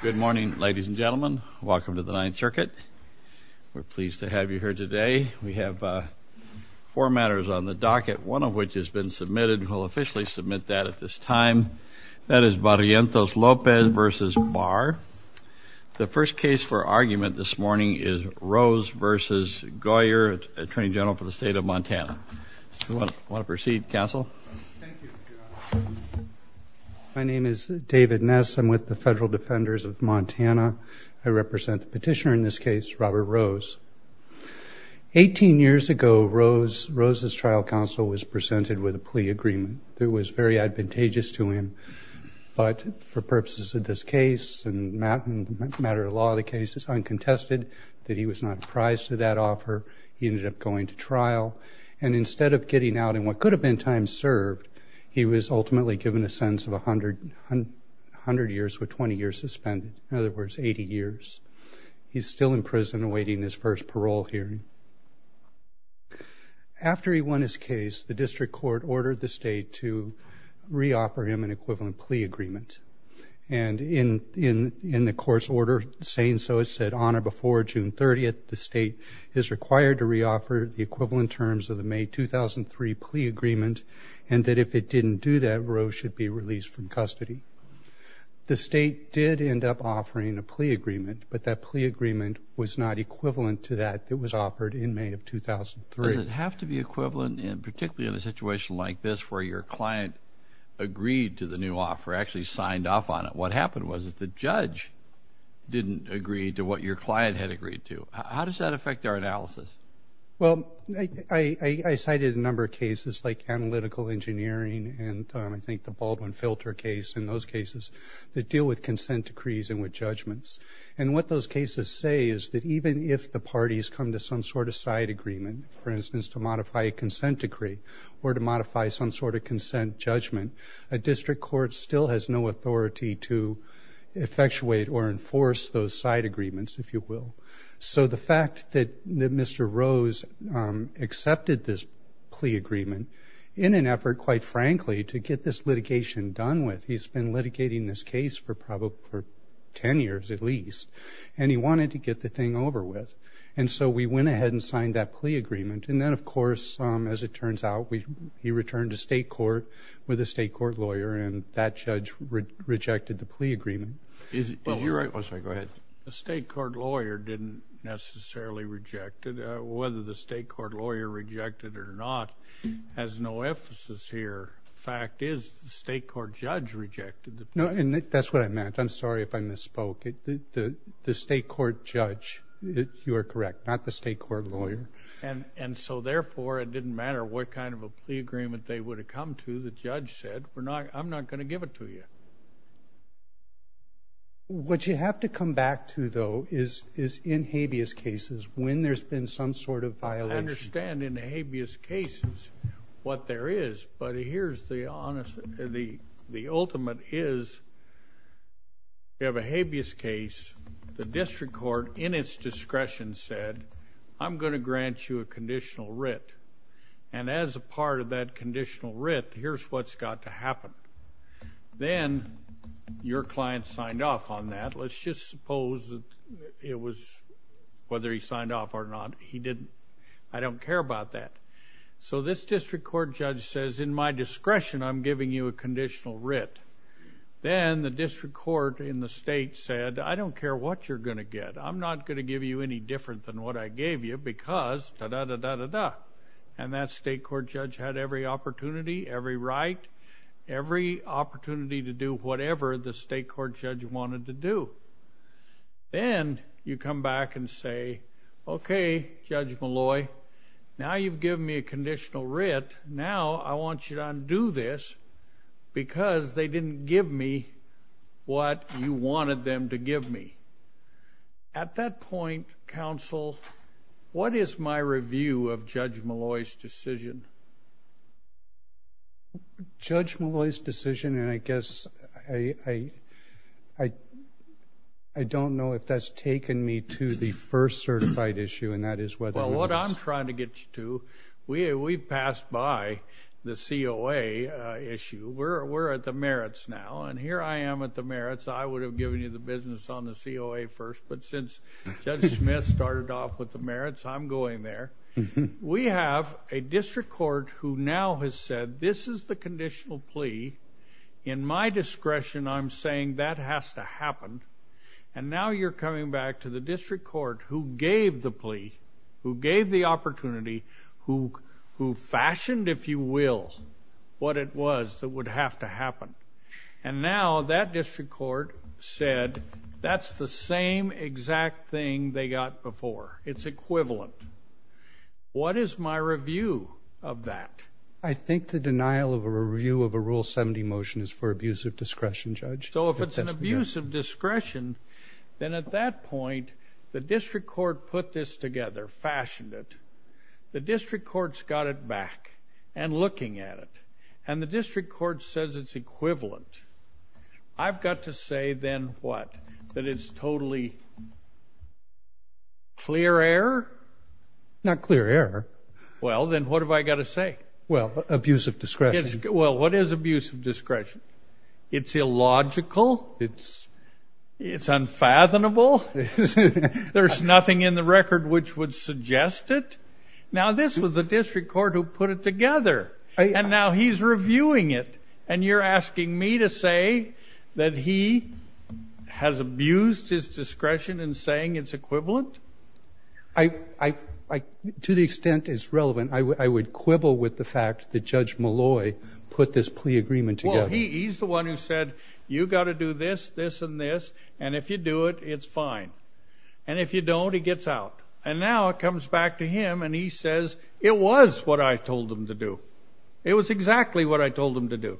Good morning ladies and gentlemen. Welcome to the Ninth Circuit. We're pleased to have you here today. We have four matters on the docket, one of which has been submitted. We'll officially submit that at this time. That is Barrientos-Lopez v. Barr. The first case for argument this morning is Rose v. Guyer, Attorney General for the State of Montana. Do you want to proceed, Counsel? My name is David Ness. I'm with the Federal Defenders of Montana. I represent the petitioner in this case, Robert Rose. Eighteen years ago, Rose's trial counsel was presented with a plea agreement that was very advantageous to him. But for purposes of this case and matter of law of the case, it's uncontested that he was not apprised to that offer. He ended up going to trial. And instead of getting out in what could have been time served, he was ultimately given a sentence of 100 years with 20 years suspended. In other words, 80 years. He's still in prison awaiting his first parole hearing. After he won his case, the district court ordered the state to re-offer him an equivalent plea agreement. And in the court's order saying so, it said on or before June 30th, the state is required to re-offer the equivalent terms of the May 2003 plea agreement, and that if it didn't do that, Rose should be released from custody. The state did end up offering a plea agreement, but that plea agreement was not equivalent to that that was offered in May of 2003. Does it have to be equivalent, and particularly in a situation like this, where your client agreed to the new offer, actually signed off on it? What happened was that the judge didn't agree to what your client had agreed to. How does that affect our analysis? Well, I cited a number of cases like analytical engineering and I think the Baldwin Filter case, and those cases that deal with consent decrees and with judgments. And what those cases say is that even if the parties come to some sort of side agreement, for instance, to modify a consent decree or to modify some sort of consent judgment, a district court still has no authority to effectuate or enforce those side agreements, if you will. So the fact that Mr. Rose accepted this plea agreement, in an effort, quite frankly, to get this litigation done with, he's been litigating this case for probably 10 years at least, and he wanted to get the thing over with. And so we went ahead and signed that plea agreement. And then, of course, as it turns out, he returned to state court with a state court lawyer, and that judge rejected the plea agreement. Is he right? I'm sorry, go ahead. The state court lawyer didn't necessarily reject it. Whether the state court lawyer rejected it or not has no emphasis here. The fact is the state court judge rejected it. No, and that's what I meant. I'm sorry if I misspoke. The state court judge, you are correct, not the state court lawyer. And so therefore, it didn't matter what kind of a plea agreement they would have come to. The judge said, I'm not going to give it to you. What you have to come back to, though, is in habeas cases, when there's been some sort of violation. I understand in habeas cases what there is. But here's the ultimate is you have a habeas case. The district court, in its discretion, said, I'm going to grant you a conditional writ. And as a part of that conditional writ, here's what's got to happen. Then your client signed off on that. Let's just suppose that it was, whether he signed off or not, he didn't. I don't care about that. So this district court judge says, in my discretion, I'm giving you a conditional writ. Then the district court in the state said, I don't care what you're going to get. I'm not going to give you any different than what I gave you because da-da-da-da-da-da. And that state court judge had every opportunity, every right, every opportunity to do whatever the state court judge wanted to do. Then you come back and say, OK, Judge Molloy, now you've given me a conditional writ. Now I want you to undo this because they didn't give me what you wanted them to give me. At that point, counsel, what is my review of Judge Molloy's decision? Judge Molloy's decision, and I guess I don't know if that's taken me to the first certified issue, and that is whether or not... Well, what I'm trying to get you to, we passed by the COA issue. We're at the merits now, and here I am at the merits. I would have given you the business on the COA first, but since Judge Smith started off with the merits, I'm going there. We have a district court who now has said this is the conditional plea. In my discretion, I'm saying that has to happen. And now you're coming back to the district court who gave the plea, who gave the opportunity, who fashioned, if you will, what it was that would have to happen. And now that district court said that's the same exact thing they got before. It's equivalent. What is my review of that? I think the denial of a review of a Rule 70 motion is for abuse of discretion, Judge. So if it's an abuse of discretion, then at that point, the district court put this together, fashioned it. The district court's got it back and looking at it. And the district court says it's equivalent. I've got to say then what? That it's totally clear error? Not clear error. Well, then what have I got to say? Well, abuse of discretion. Well, what is abuse of discretion? It's illogical. It's unfathomable. There's nothing in the record which would suggest it. Now this was the district court who put it together. And now he's reviewing it. And you're asking me to say that he has abused his discretion in saying it's equivalent? To the extent it's relevant, I would quibble with the fact that Judge Malloy put this plea agreement together. Well, he's the one who said, you've got to do this, this, and this. And if you do it, it's fine. And if you don't, he gets out. And now it comes back to him and he says, it was what I told him to do. It was exactly what I told him to do.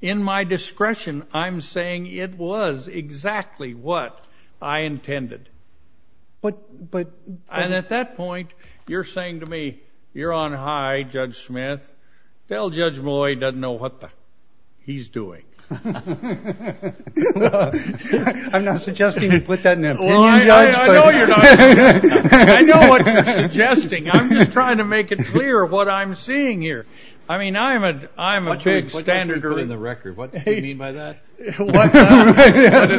In my discretion, I'm saying it was exactly what I intended. And at that point, you're saying to me, you're on high, Judge Smith. Tell Judge Malloy he doesn't know what the he's doing. I'm not suggesting you put that in an opinion, Judge. Well, I know you're not. I know what you're suggesting. I'm just trying to make it clear what I'm seeing here. I mean, I'm a big standarder. What did you put in the record? What do you mean by that? What did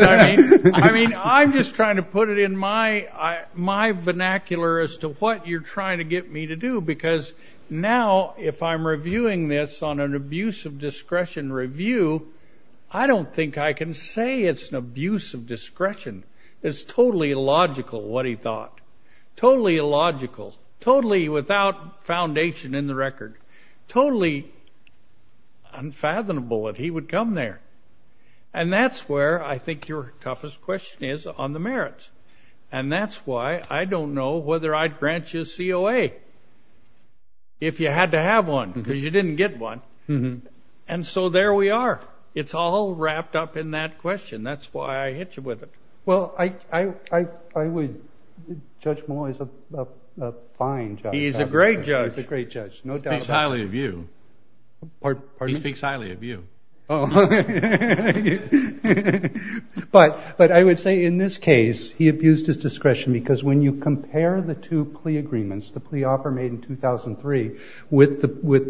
I mean? I mean, I'm just trying to put it in my vernacular as to what you're trying to get me to do. Because now, if I'm reviewing this on an abuse of discretion review, I don't think I can say it's an abuse of discretion. It's totally illogical, what he thought. Totally illogical. Totally without foundation in the record. Totally unfathomable that he would come there. And that's where I think your toughest question is on the merits. And that's why I don't know whether I'd grant you a COA if you had to have one, because you didn't get one. And so there we are. It's all wrapped up in that question. That's why I hit you with it. Well, I would judge Moore as a fine judge. He's a great judge. He's a great judge. No doubt about it. He speaks highly of you. Pardon me? He speaks highly of you. Oh. But I would say in this case, he abused his discretion because when you compare the two plea agreements, the plea offer made in 2003 with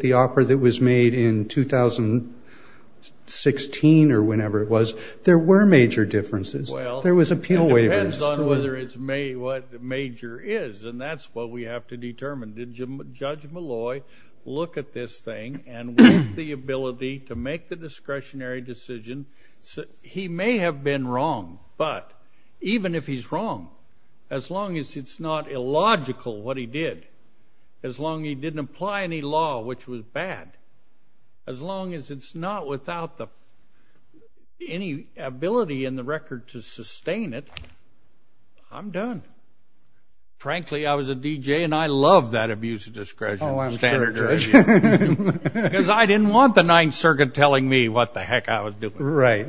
the offer that was made in 2016 or whenever it was, there were major differences. Well, it depends on whether it's what major is. And that's what we have to determine. Did Judge Malloy look at this thing and with the ability to make the discretionary decision? He may have been wrong, but even if he's wrong, as long as it's not illogical what he did, as long as he didn't apply any law which was bad, as long as it's not without any ability in the record to sustain it, I'm done. Frankly, I was a DJ, and I love that abuse of discretion standard. Oh, I'm sure, Judge. Because I didn't want the Ninth Circuit telling me what the heck I was doing. Right.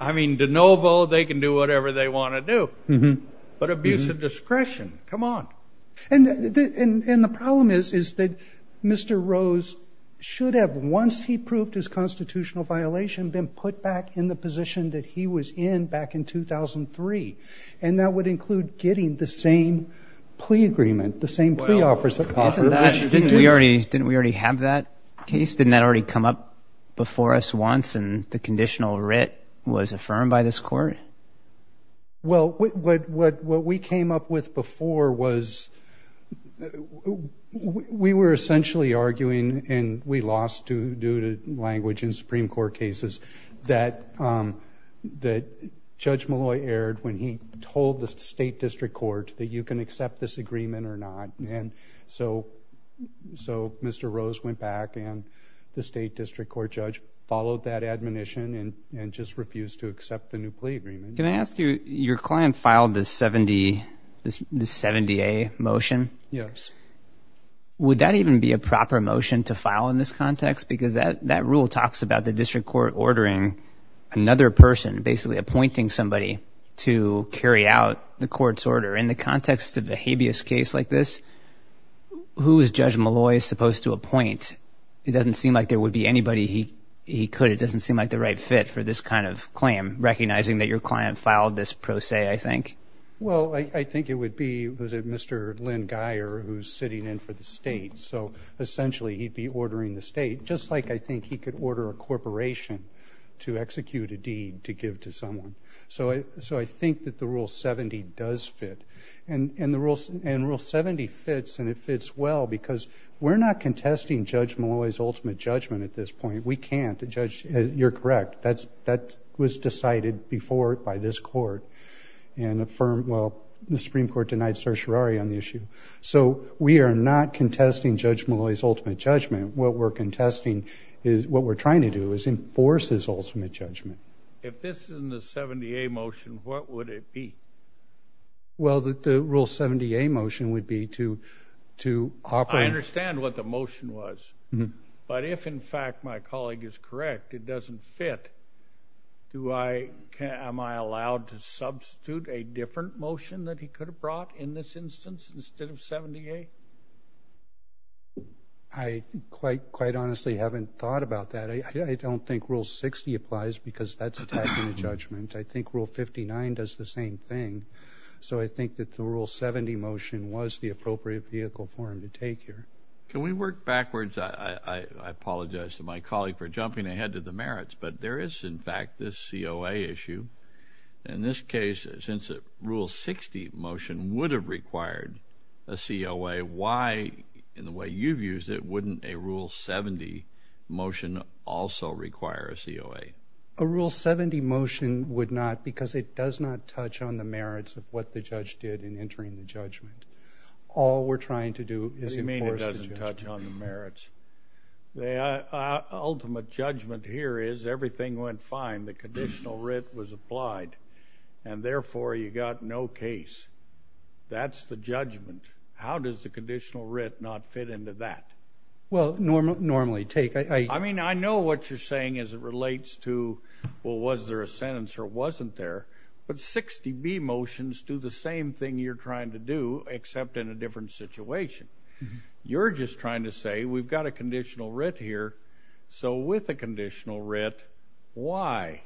I mean, de novo, they can do whatever they want to do. But abuse of discretion, come on. And the problem is that Mr. Rose should have, once he proved his constitutional violation, been put back in the position that he was in back in 2003. And that would include getting the same plea agreement, the same plea offers. Didn't we already have that case? Didn't that already come up before us once, and the conditional writ was affirmed by this court? Well, what we came up with before was we were essentially arguing, and we lost due to language in Supreme Court cases, that Judge Malloy erred when he told the State District Court that you can accept this agreement or not. And so Mr. Rose went back, and the State District Court judge followed that admonition and just refused to accept the new plea agreement. Can I ask you, your client filed the 70A motion? Yes. Would that even be a proper motion to file in this context? Because that rule talks about the District Court ordering another person, basically appointing somebody, to carry out the court's order. In the context of a habeas case like this, who is Judge Malloy supposed to appoint? It doesn't seem like there would be anybody he could. It doesn't seem like the right fit for this kind of claim, recognizing that your client filed this pro se, I think. Well, I think it would be Mr. Lynn Geyer, who's sitting in for the State. So essentially, he'd be ordering the State, just like I think he could order a corporation to execute a deed to give to someone. So I think that the Rule 70 does fit. And Rule 70 fits, and it fits well, because we're not contesting Judge Malloy's ultimate judgment at this point. We can't. You're correct. That was decided before by this court and affirmed, well, the Supreme Court denied certiorari on the issue. So we are not contesting Judge Malloy's ultimate judgment. What we're trying to do is enforce his ultimate judgment. If this is in the 70A motion, what would it be? Well, the Rule 70A motion would be to offer... I understand what the motion was. But if, in fact, my colleague is correct, it doesn't fit, am I allowed to substitute a different motion that he could have brought in this instance instead of 70A? I quite honestly haven't thought about that. I don't think Rule 60 applies, because that's attacking a judgment. I think Rule 59 does the same thing. So I think that the Rule 70 motion was the appropriate vehicle for him to take here. Can we work backwards? I apologize to my colleague for jumping ahead to the merits, but there is, in fact, this COA issue. In this case, since a Rule 60 motion would have required a COA, why, in the way you've used it, wouldn't a Rule 70 motion also require a COA? A Rule 70 motion would not, because it does not touch on the merits of what the judge did in entering the judgment. All we're trying to do is enforce the judgment. What do you mean it doesn't touch on the merits? The ultimate judgment here is everything went fine. The conditional writ was applied, and, therefore, you got no case. That's the judgment. How does the conditional writ not fit into that? Well, normally, take... I mean, I know what you're saying as it relates to, well, was there a sentence or it wasn't there, but 60B motions do the same thing you're trying to do, except in a different situation. You're just trying to say, we've got a conditional writ here, so with the conditional writ, why?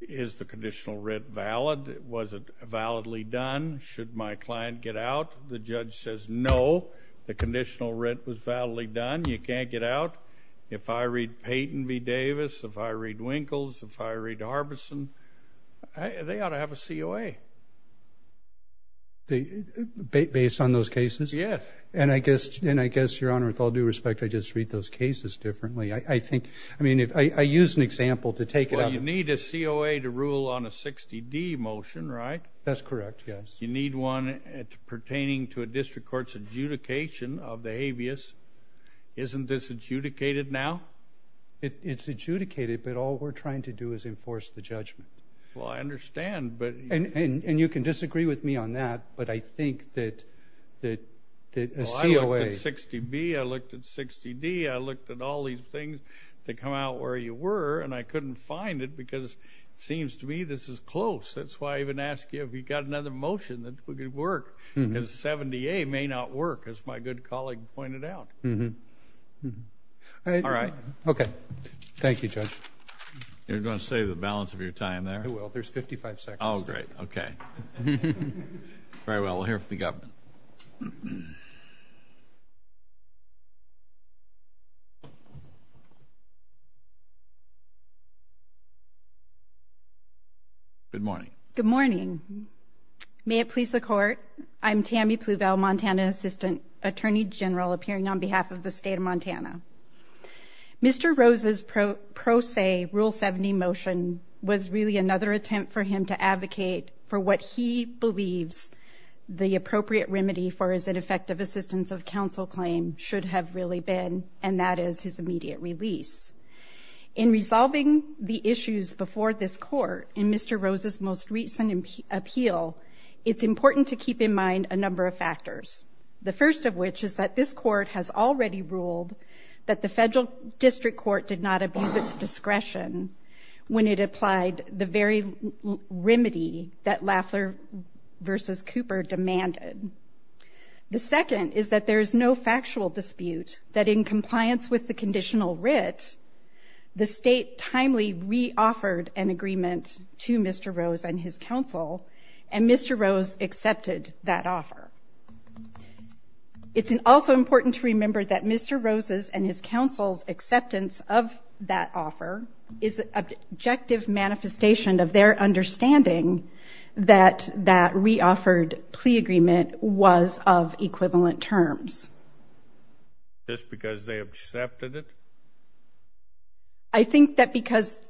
Is the conditional writ valid? Was it validly done? Should my client get out? The judge says, no, the conditional writ was validly done. You can't get out. If I read Peyton v. Davis, if I read Winkles, if I read Harbison, they ought to have a COA. Based on those cases? Yes. And I guess, Your Honor, with all due respect, I just read those cases differently. I think... I mean, I used an example to take it out. Well, you need a COA to rule on a 60D motion, right? That's correct, yes. You need one pertaining to a district court's adjudication of the habeas. Isn't this adjudicated now? It's adjudicated, but all we're trying to do is enforce the judgment. Well, I understand, but... And you can disagree with me on that, but I think that a COA... Well, I looked at 60B, I looked at 60D, I looked at all these things that come out where you were, and I couldn't find it because it seems to me this is close. That's why I even asked you if you've got another motion that would work. Because 70A may not work, as my good colleague pointed out. All right. Okay. Thank you, Judge. You're going to say the balance of your time there? I will. There's 55 seconds. Oh, great. Okay. Very well. We'll hear from the government. Good morning. Good morning. May it please the Court, I'm Tammy Pluvel, Montana Assistant Attorney General, appearing on behalf of the State of Montana. Mr. Rose's pro se Rule 70 motion was really another attempt for him to advocate for what he believes the appropriate remedy for his ineffective assistance of counsel claim should have really been, and that is his immediate release. In resolving the issues before this Court, in Mr. Rose's most recent appeal, it's important to keep in mind a number of factors. The first of which is that this Court has already ruled that the Federal District Court did not abuse its discretion when it applied the very remedy that Lafler v. Cooper demanded. The second is that there is no factual dispute that in compliance with the conditional writ, the State timely re-offered an agreement to Mr. Rose and his counsel, and Mr. Rose accepted that offer. It's also important to remember that Mr. Rose's and his counsel's acceptance of that offer is an objective manifestation of their understanding that that re-offered plea agreement was of equivalent terms. Just because they accepted it? I think that because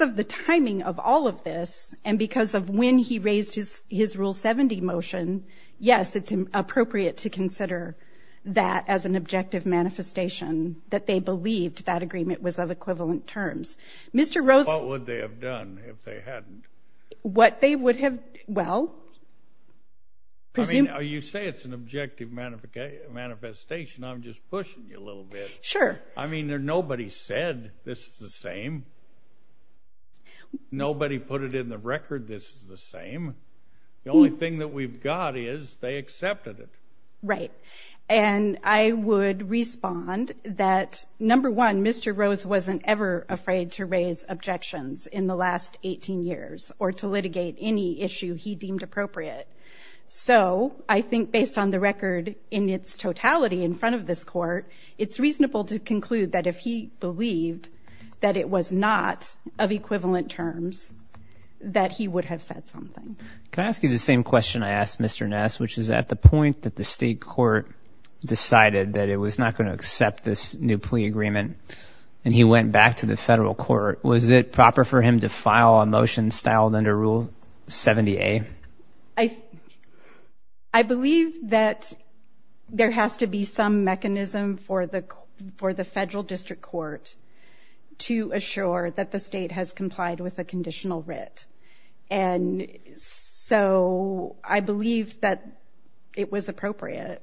of the timing of all of this and because of when he raised his Rule 70 motion, yes, it's appropriate to consider that as an objective manifestation that they believed that agreement was of equivalent terms. Mr. Rose... What would they have done if they hadn't? What they would have... Well... I mean, you say it's an objective manifestation. I'm just pushing you a little bit. Sure. I mean, nobody said this is the same. Nobody put it in the record this is the same. The only thing that we've got is they accepted it. Right. And I would respond that, number one, Mr. Rose wasn't ever afraid to raise objections in the last 18 years or to litigate any issue he deemed appropriate. So, I think based on the record in its totality in front of this Court, it's reasonable to conclude that if he believed that it was not of equivalent terms, that he would have said something. Can I ask you the same question I asked Mr. Ness, which is at the point that the state court decided that it was not going to accept this new plea agreement and he went back to the federal court, was it proper for him to file a motion styled under Rule 70A? I... I believe that there has to be some mechanism for the federal district court to assure that the state has complied with a conditional writ. And so, I believe that it was appropriate.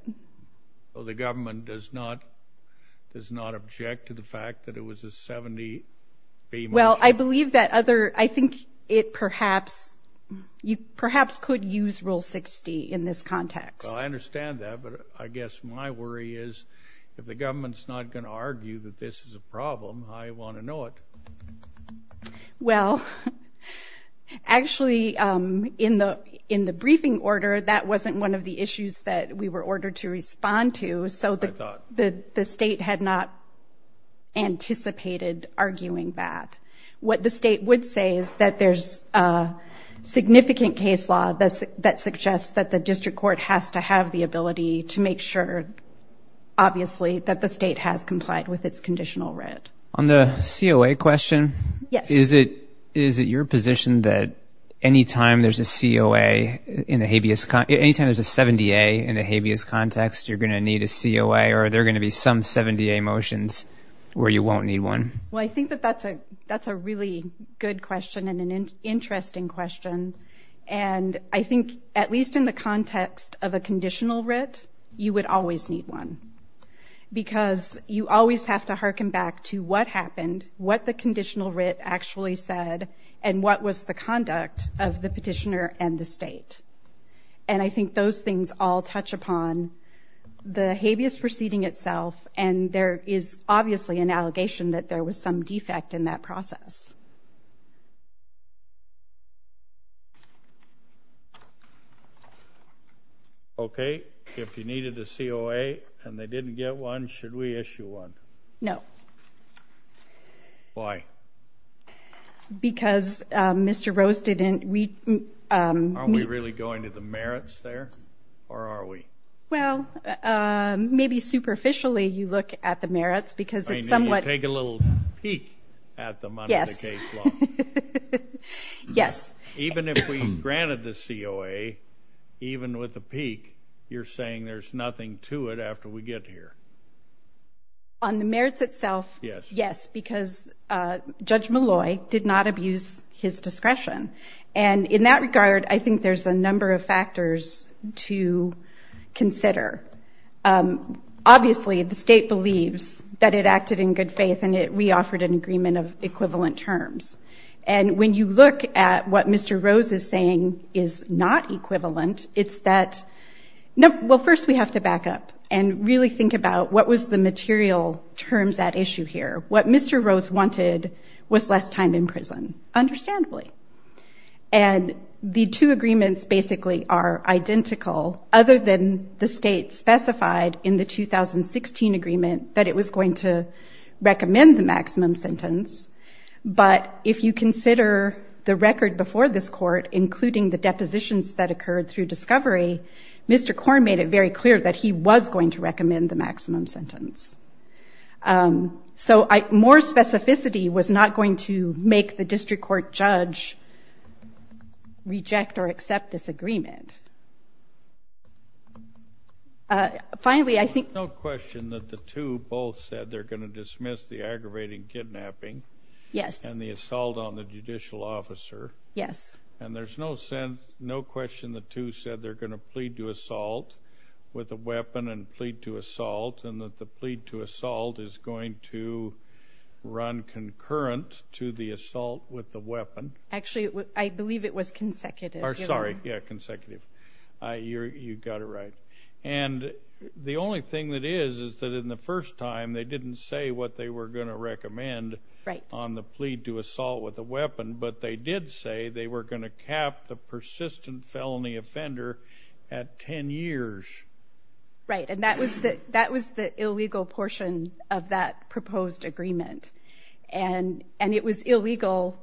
So, the government does not object to the fact that it was a 70B motion? Well, I believe that other... I think it perhaps... you perhaps could use Rule 60 in this context. Well, I understand that, but I guess my worry is if the government's not going to argue that this is a problem, I want to know it. Well, actually, in the briefing order, that wasn't one of the issues that we were ordered to respond to, so the state had not anticipated arguing that. What the state would say is that there's a significant case law that suggests that the district court has to have the ability to make sure, obviously, that the state has complied with its conditional writ. On the COA question, is it your position that anytime there's a COA in the habeas... anytime there's a 70A in the habeas context, you're going to need a COA, or are there going to be some 70A motions where you won't need one? Well, I think that that's a really good question and an interesting question. And I think, at least in the context of a conditional writ, you would always need one because you always have to harken back to what happened, what the conditional writ actually said, and what was the conduct of the petitioner and the state. And I think those things all touch upon the habeas proceeding itself, and there is obviously an allegation that there was some defect in that process. Okay, if you needed a COA and they didn't get one, should we issue one? No. Why? Because Mr. Rose didn't... Aren't we really going to the merits there? Or are we? Well, maybe superficially you look at the merits because it's somewhat... I need to take a little peek at the money in the case law. Yes. Yes. Even if we granted the COA, even with a peek, you're saying there's nothing to it after we get here. On the merits itself, yes. Because Judge Malloy did not abuse his discretion. And in that regard, I think there's a number of factors to consider. Obviously, the state believes that it acted in good faith and it re-offered an agreement of equivalent terms. And when you look at what Mr. Rose is saying is not equivalent, it's that... Well, first we have to back up and really think about what was the material terms at issue here. What Mr. Rose wanted was less time in prison, understandably. And the two agreements basically are identical other than the state specified in the 2016 agreement that it was going to recommend the maximum sentence. But if you consider the record before this court, including the depositions that occurred through discovery, Mr. Korn made it very clear that he was going to recommend the maximum sentence. So more specificity was not going to make the district court judge reject or accept this agreement. Finally, I think... There's no question that the two both said they're going to dismiss the aggravating kidnapping and the assault on the judicial officer. Yes. And there's no question the two said they're going to plead to assault with a weapon and plead to assault and that the plead to assault is going to run concurrent to the assault with the weapon. Actually, I believe it was consecutive. Sorry, yeah, consecutive. You got it right. And the only thing that is is that in the first time they didn't say what they were going to recommend on the plead to assault with a weapon but they did say they were going to cap the persistent felony offender at ten years. Right. And that was the illegal portion of that proposed agreement. And it was illegal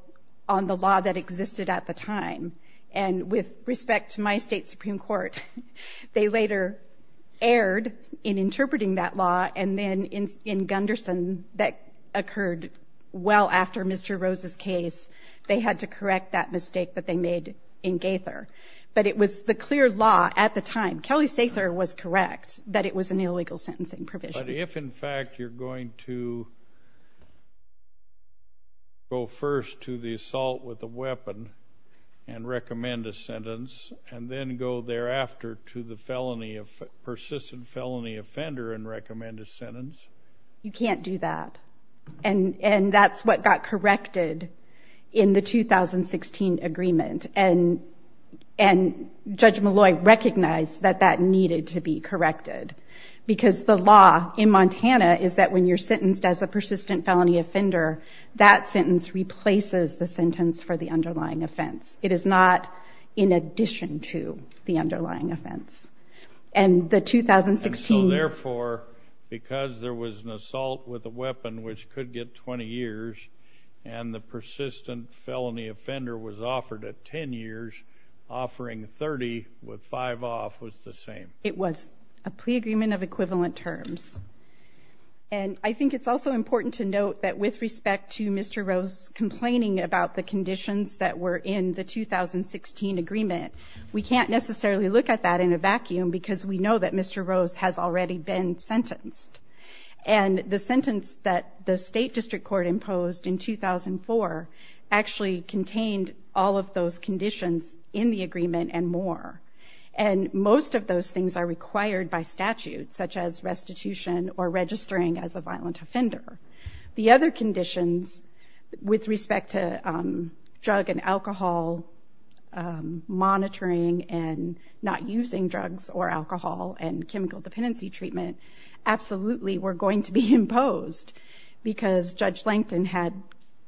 on the law that existed at the time. And with respect to my state Supreme Court, they later erred in interpreting that law and then in Gunderson that occurred well after Mr. Rose's case, they had to correct that mistake that they made in Gaither. But it was the clear law at the time. Kelly Sather was correct that it was an illegal sentencing provision. But if, in fact, you're going to go first to the assault with a weapon and recommend a sentence and then go thereafter to the persistent felony offender and recommend a sentence, you can't do that. And that's what got corrected in the 2016 agreement. And Judge Malloy recognized that that needed to be corrected. Because the law in Montana is that when you're sentenced as a persistent felony offender, that sentence replaces the sentence for the underlying offense. It is not in addition to the underlying offense. And the 2016... And so therefore, because there was an assault with a weapon which could get 20 years and the persistent felony offender was offered at 10 years, offering 30 with 5 off was the same. It was a plea agreement of equivalent terms. And I think it's also important to note that with respect to Mr. Rose complaining about the conditions that were in the 2016 agreement, we can't necessarily look at that in a vacuum because we know that Mr. Rose has already been sentenced. And the sentence that the State District Court imposed in 2004 actually contained all of those conditions in the agreement and more. And most of those things are restitution or registering as a violent offender. The other conditions with respect to drug and alcohol monitoring and not using drugs or alcohol and chemical dependency treatment absolutely were going to be imposed because Judge Langton had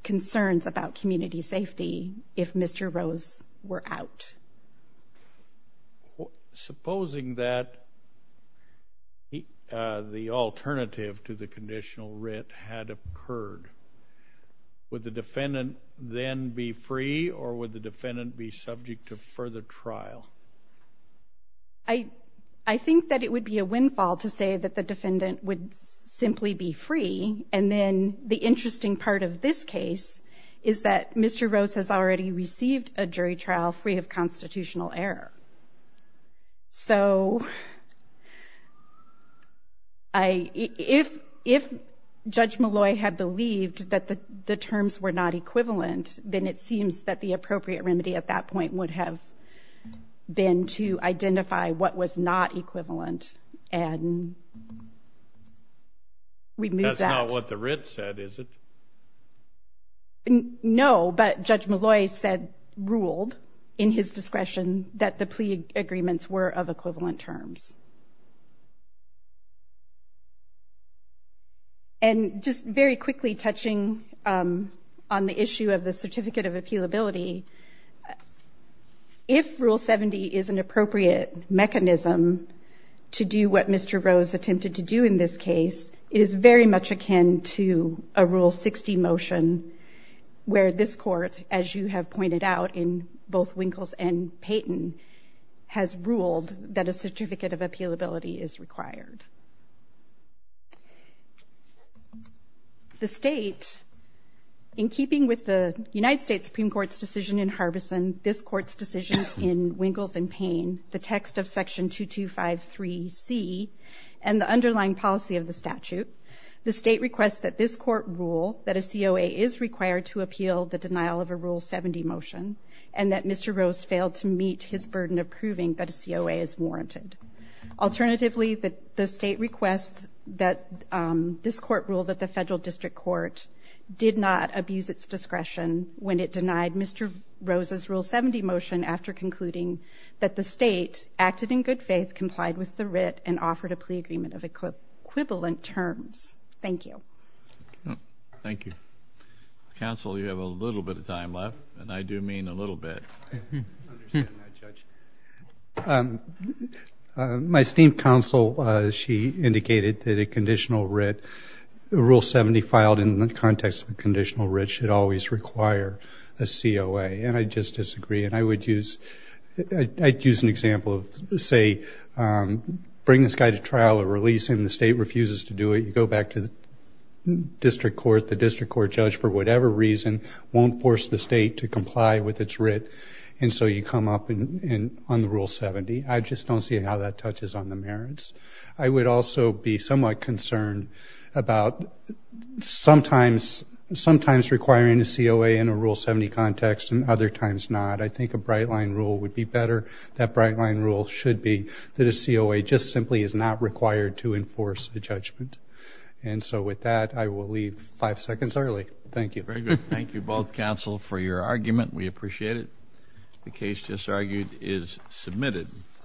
concerns about community safety if Mr. Rose were out. Supposing that the alternative to the conditional writ had occurred, would the defendant then be free or would the defendant be subject to further trial? I think that it would be a windfall to say that the defendant would simply be free and then the interesting part of this case is that Mr. Rose has already received a jury trial free of constitutional error. So if Judge Malloy had believed that the terms were not equivalent then it seems that the appropriate remedy at that point would have been to identify what was not equivalent and remove that. That's not what the writ said, is it? No, but Judge Malloy said, ruled in his discretion, that the plea agreements were of equivalent terms. And just very quickly touching on the issue of the Certificate of Appealability if Rule 70 is an appropriate mechanism to do what Mr. Rose attempted to do in this case, is very much akin to a Rule 60 motion where this court as you have pointed out in both Winkles and Payton has ruled that a Certificate of Appealability is required. The state in keeping with the United States Supreme Court's decision in Harbison this court's decision in Winkles and Payne the text of Section 2253C and the underlying policy of the statute the state requests that this court rule that a COA is required to appeal the denial of a Rule 70 motion and that Mr. Rose failed to meet his burden of proving that a COA is warranted. Alternatively the state requests that this court rule that the Federal District Court did not abuse its discretion when it denied Mr. Rose's Rule 70 motion after concluding that the state acted in good faith, complied with the writ, and offered a plea agreement of equivalent terms. Thank you. Thank you. Counsel, you have a little bit of time left and I do mean a little bit. I understand that, Judge. My esteemed counsel, she indicated that a conditional writ Rule 70 filed in the context of a conditional writ should always require a COA and I just disagree and I would use I'd use an example of say bring this guy to trial or release him, the state refuses to do it you go back to the district court the district court judge for whatever reason won't force the state to comply with its writ and so you come up on the Rule 70 I just don't see how that touches on the merits I would also be somewhat concerned about sometimes requiring a COA in a Rule 70 context and other times not I think a bright line rule would be better that bright line rule should be that a COA just simply is not required to enforce a judgment and so with that I will leave five seconds early. Thank you. Thank you both counsel for your argument we appreciate it. The case just argued is submitted.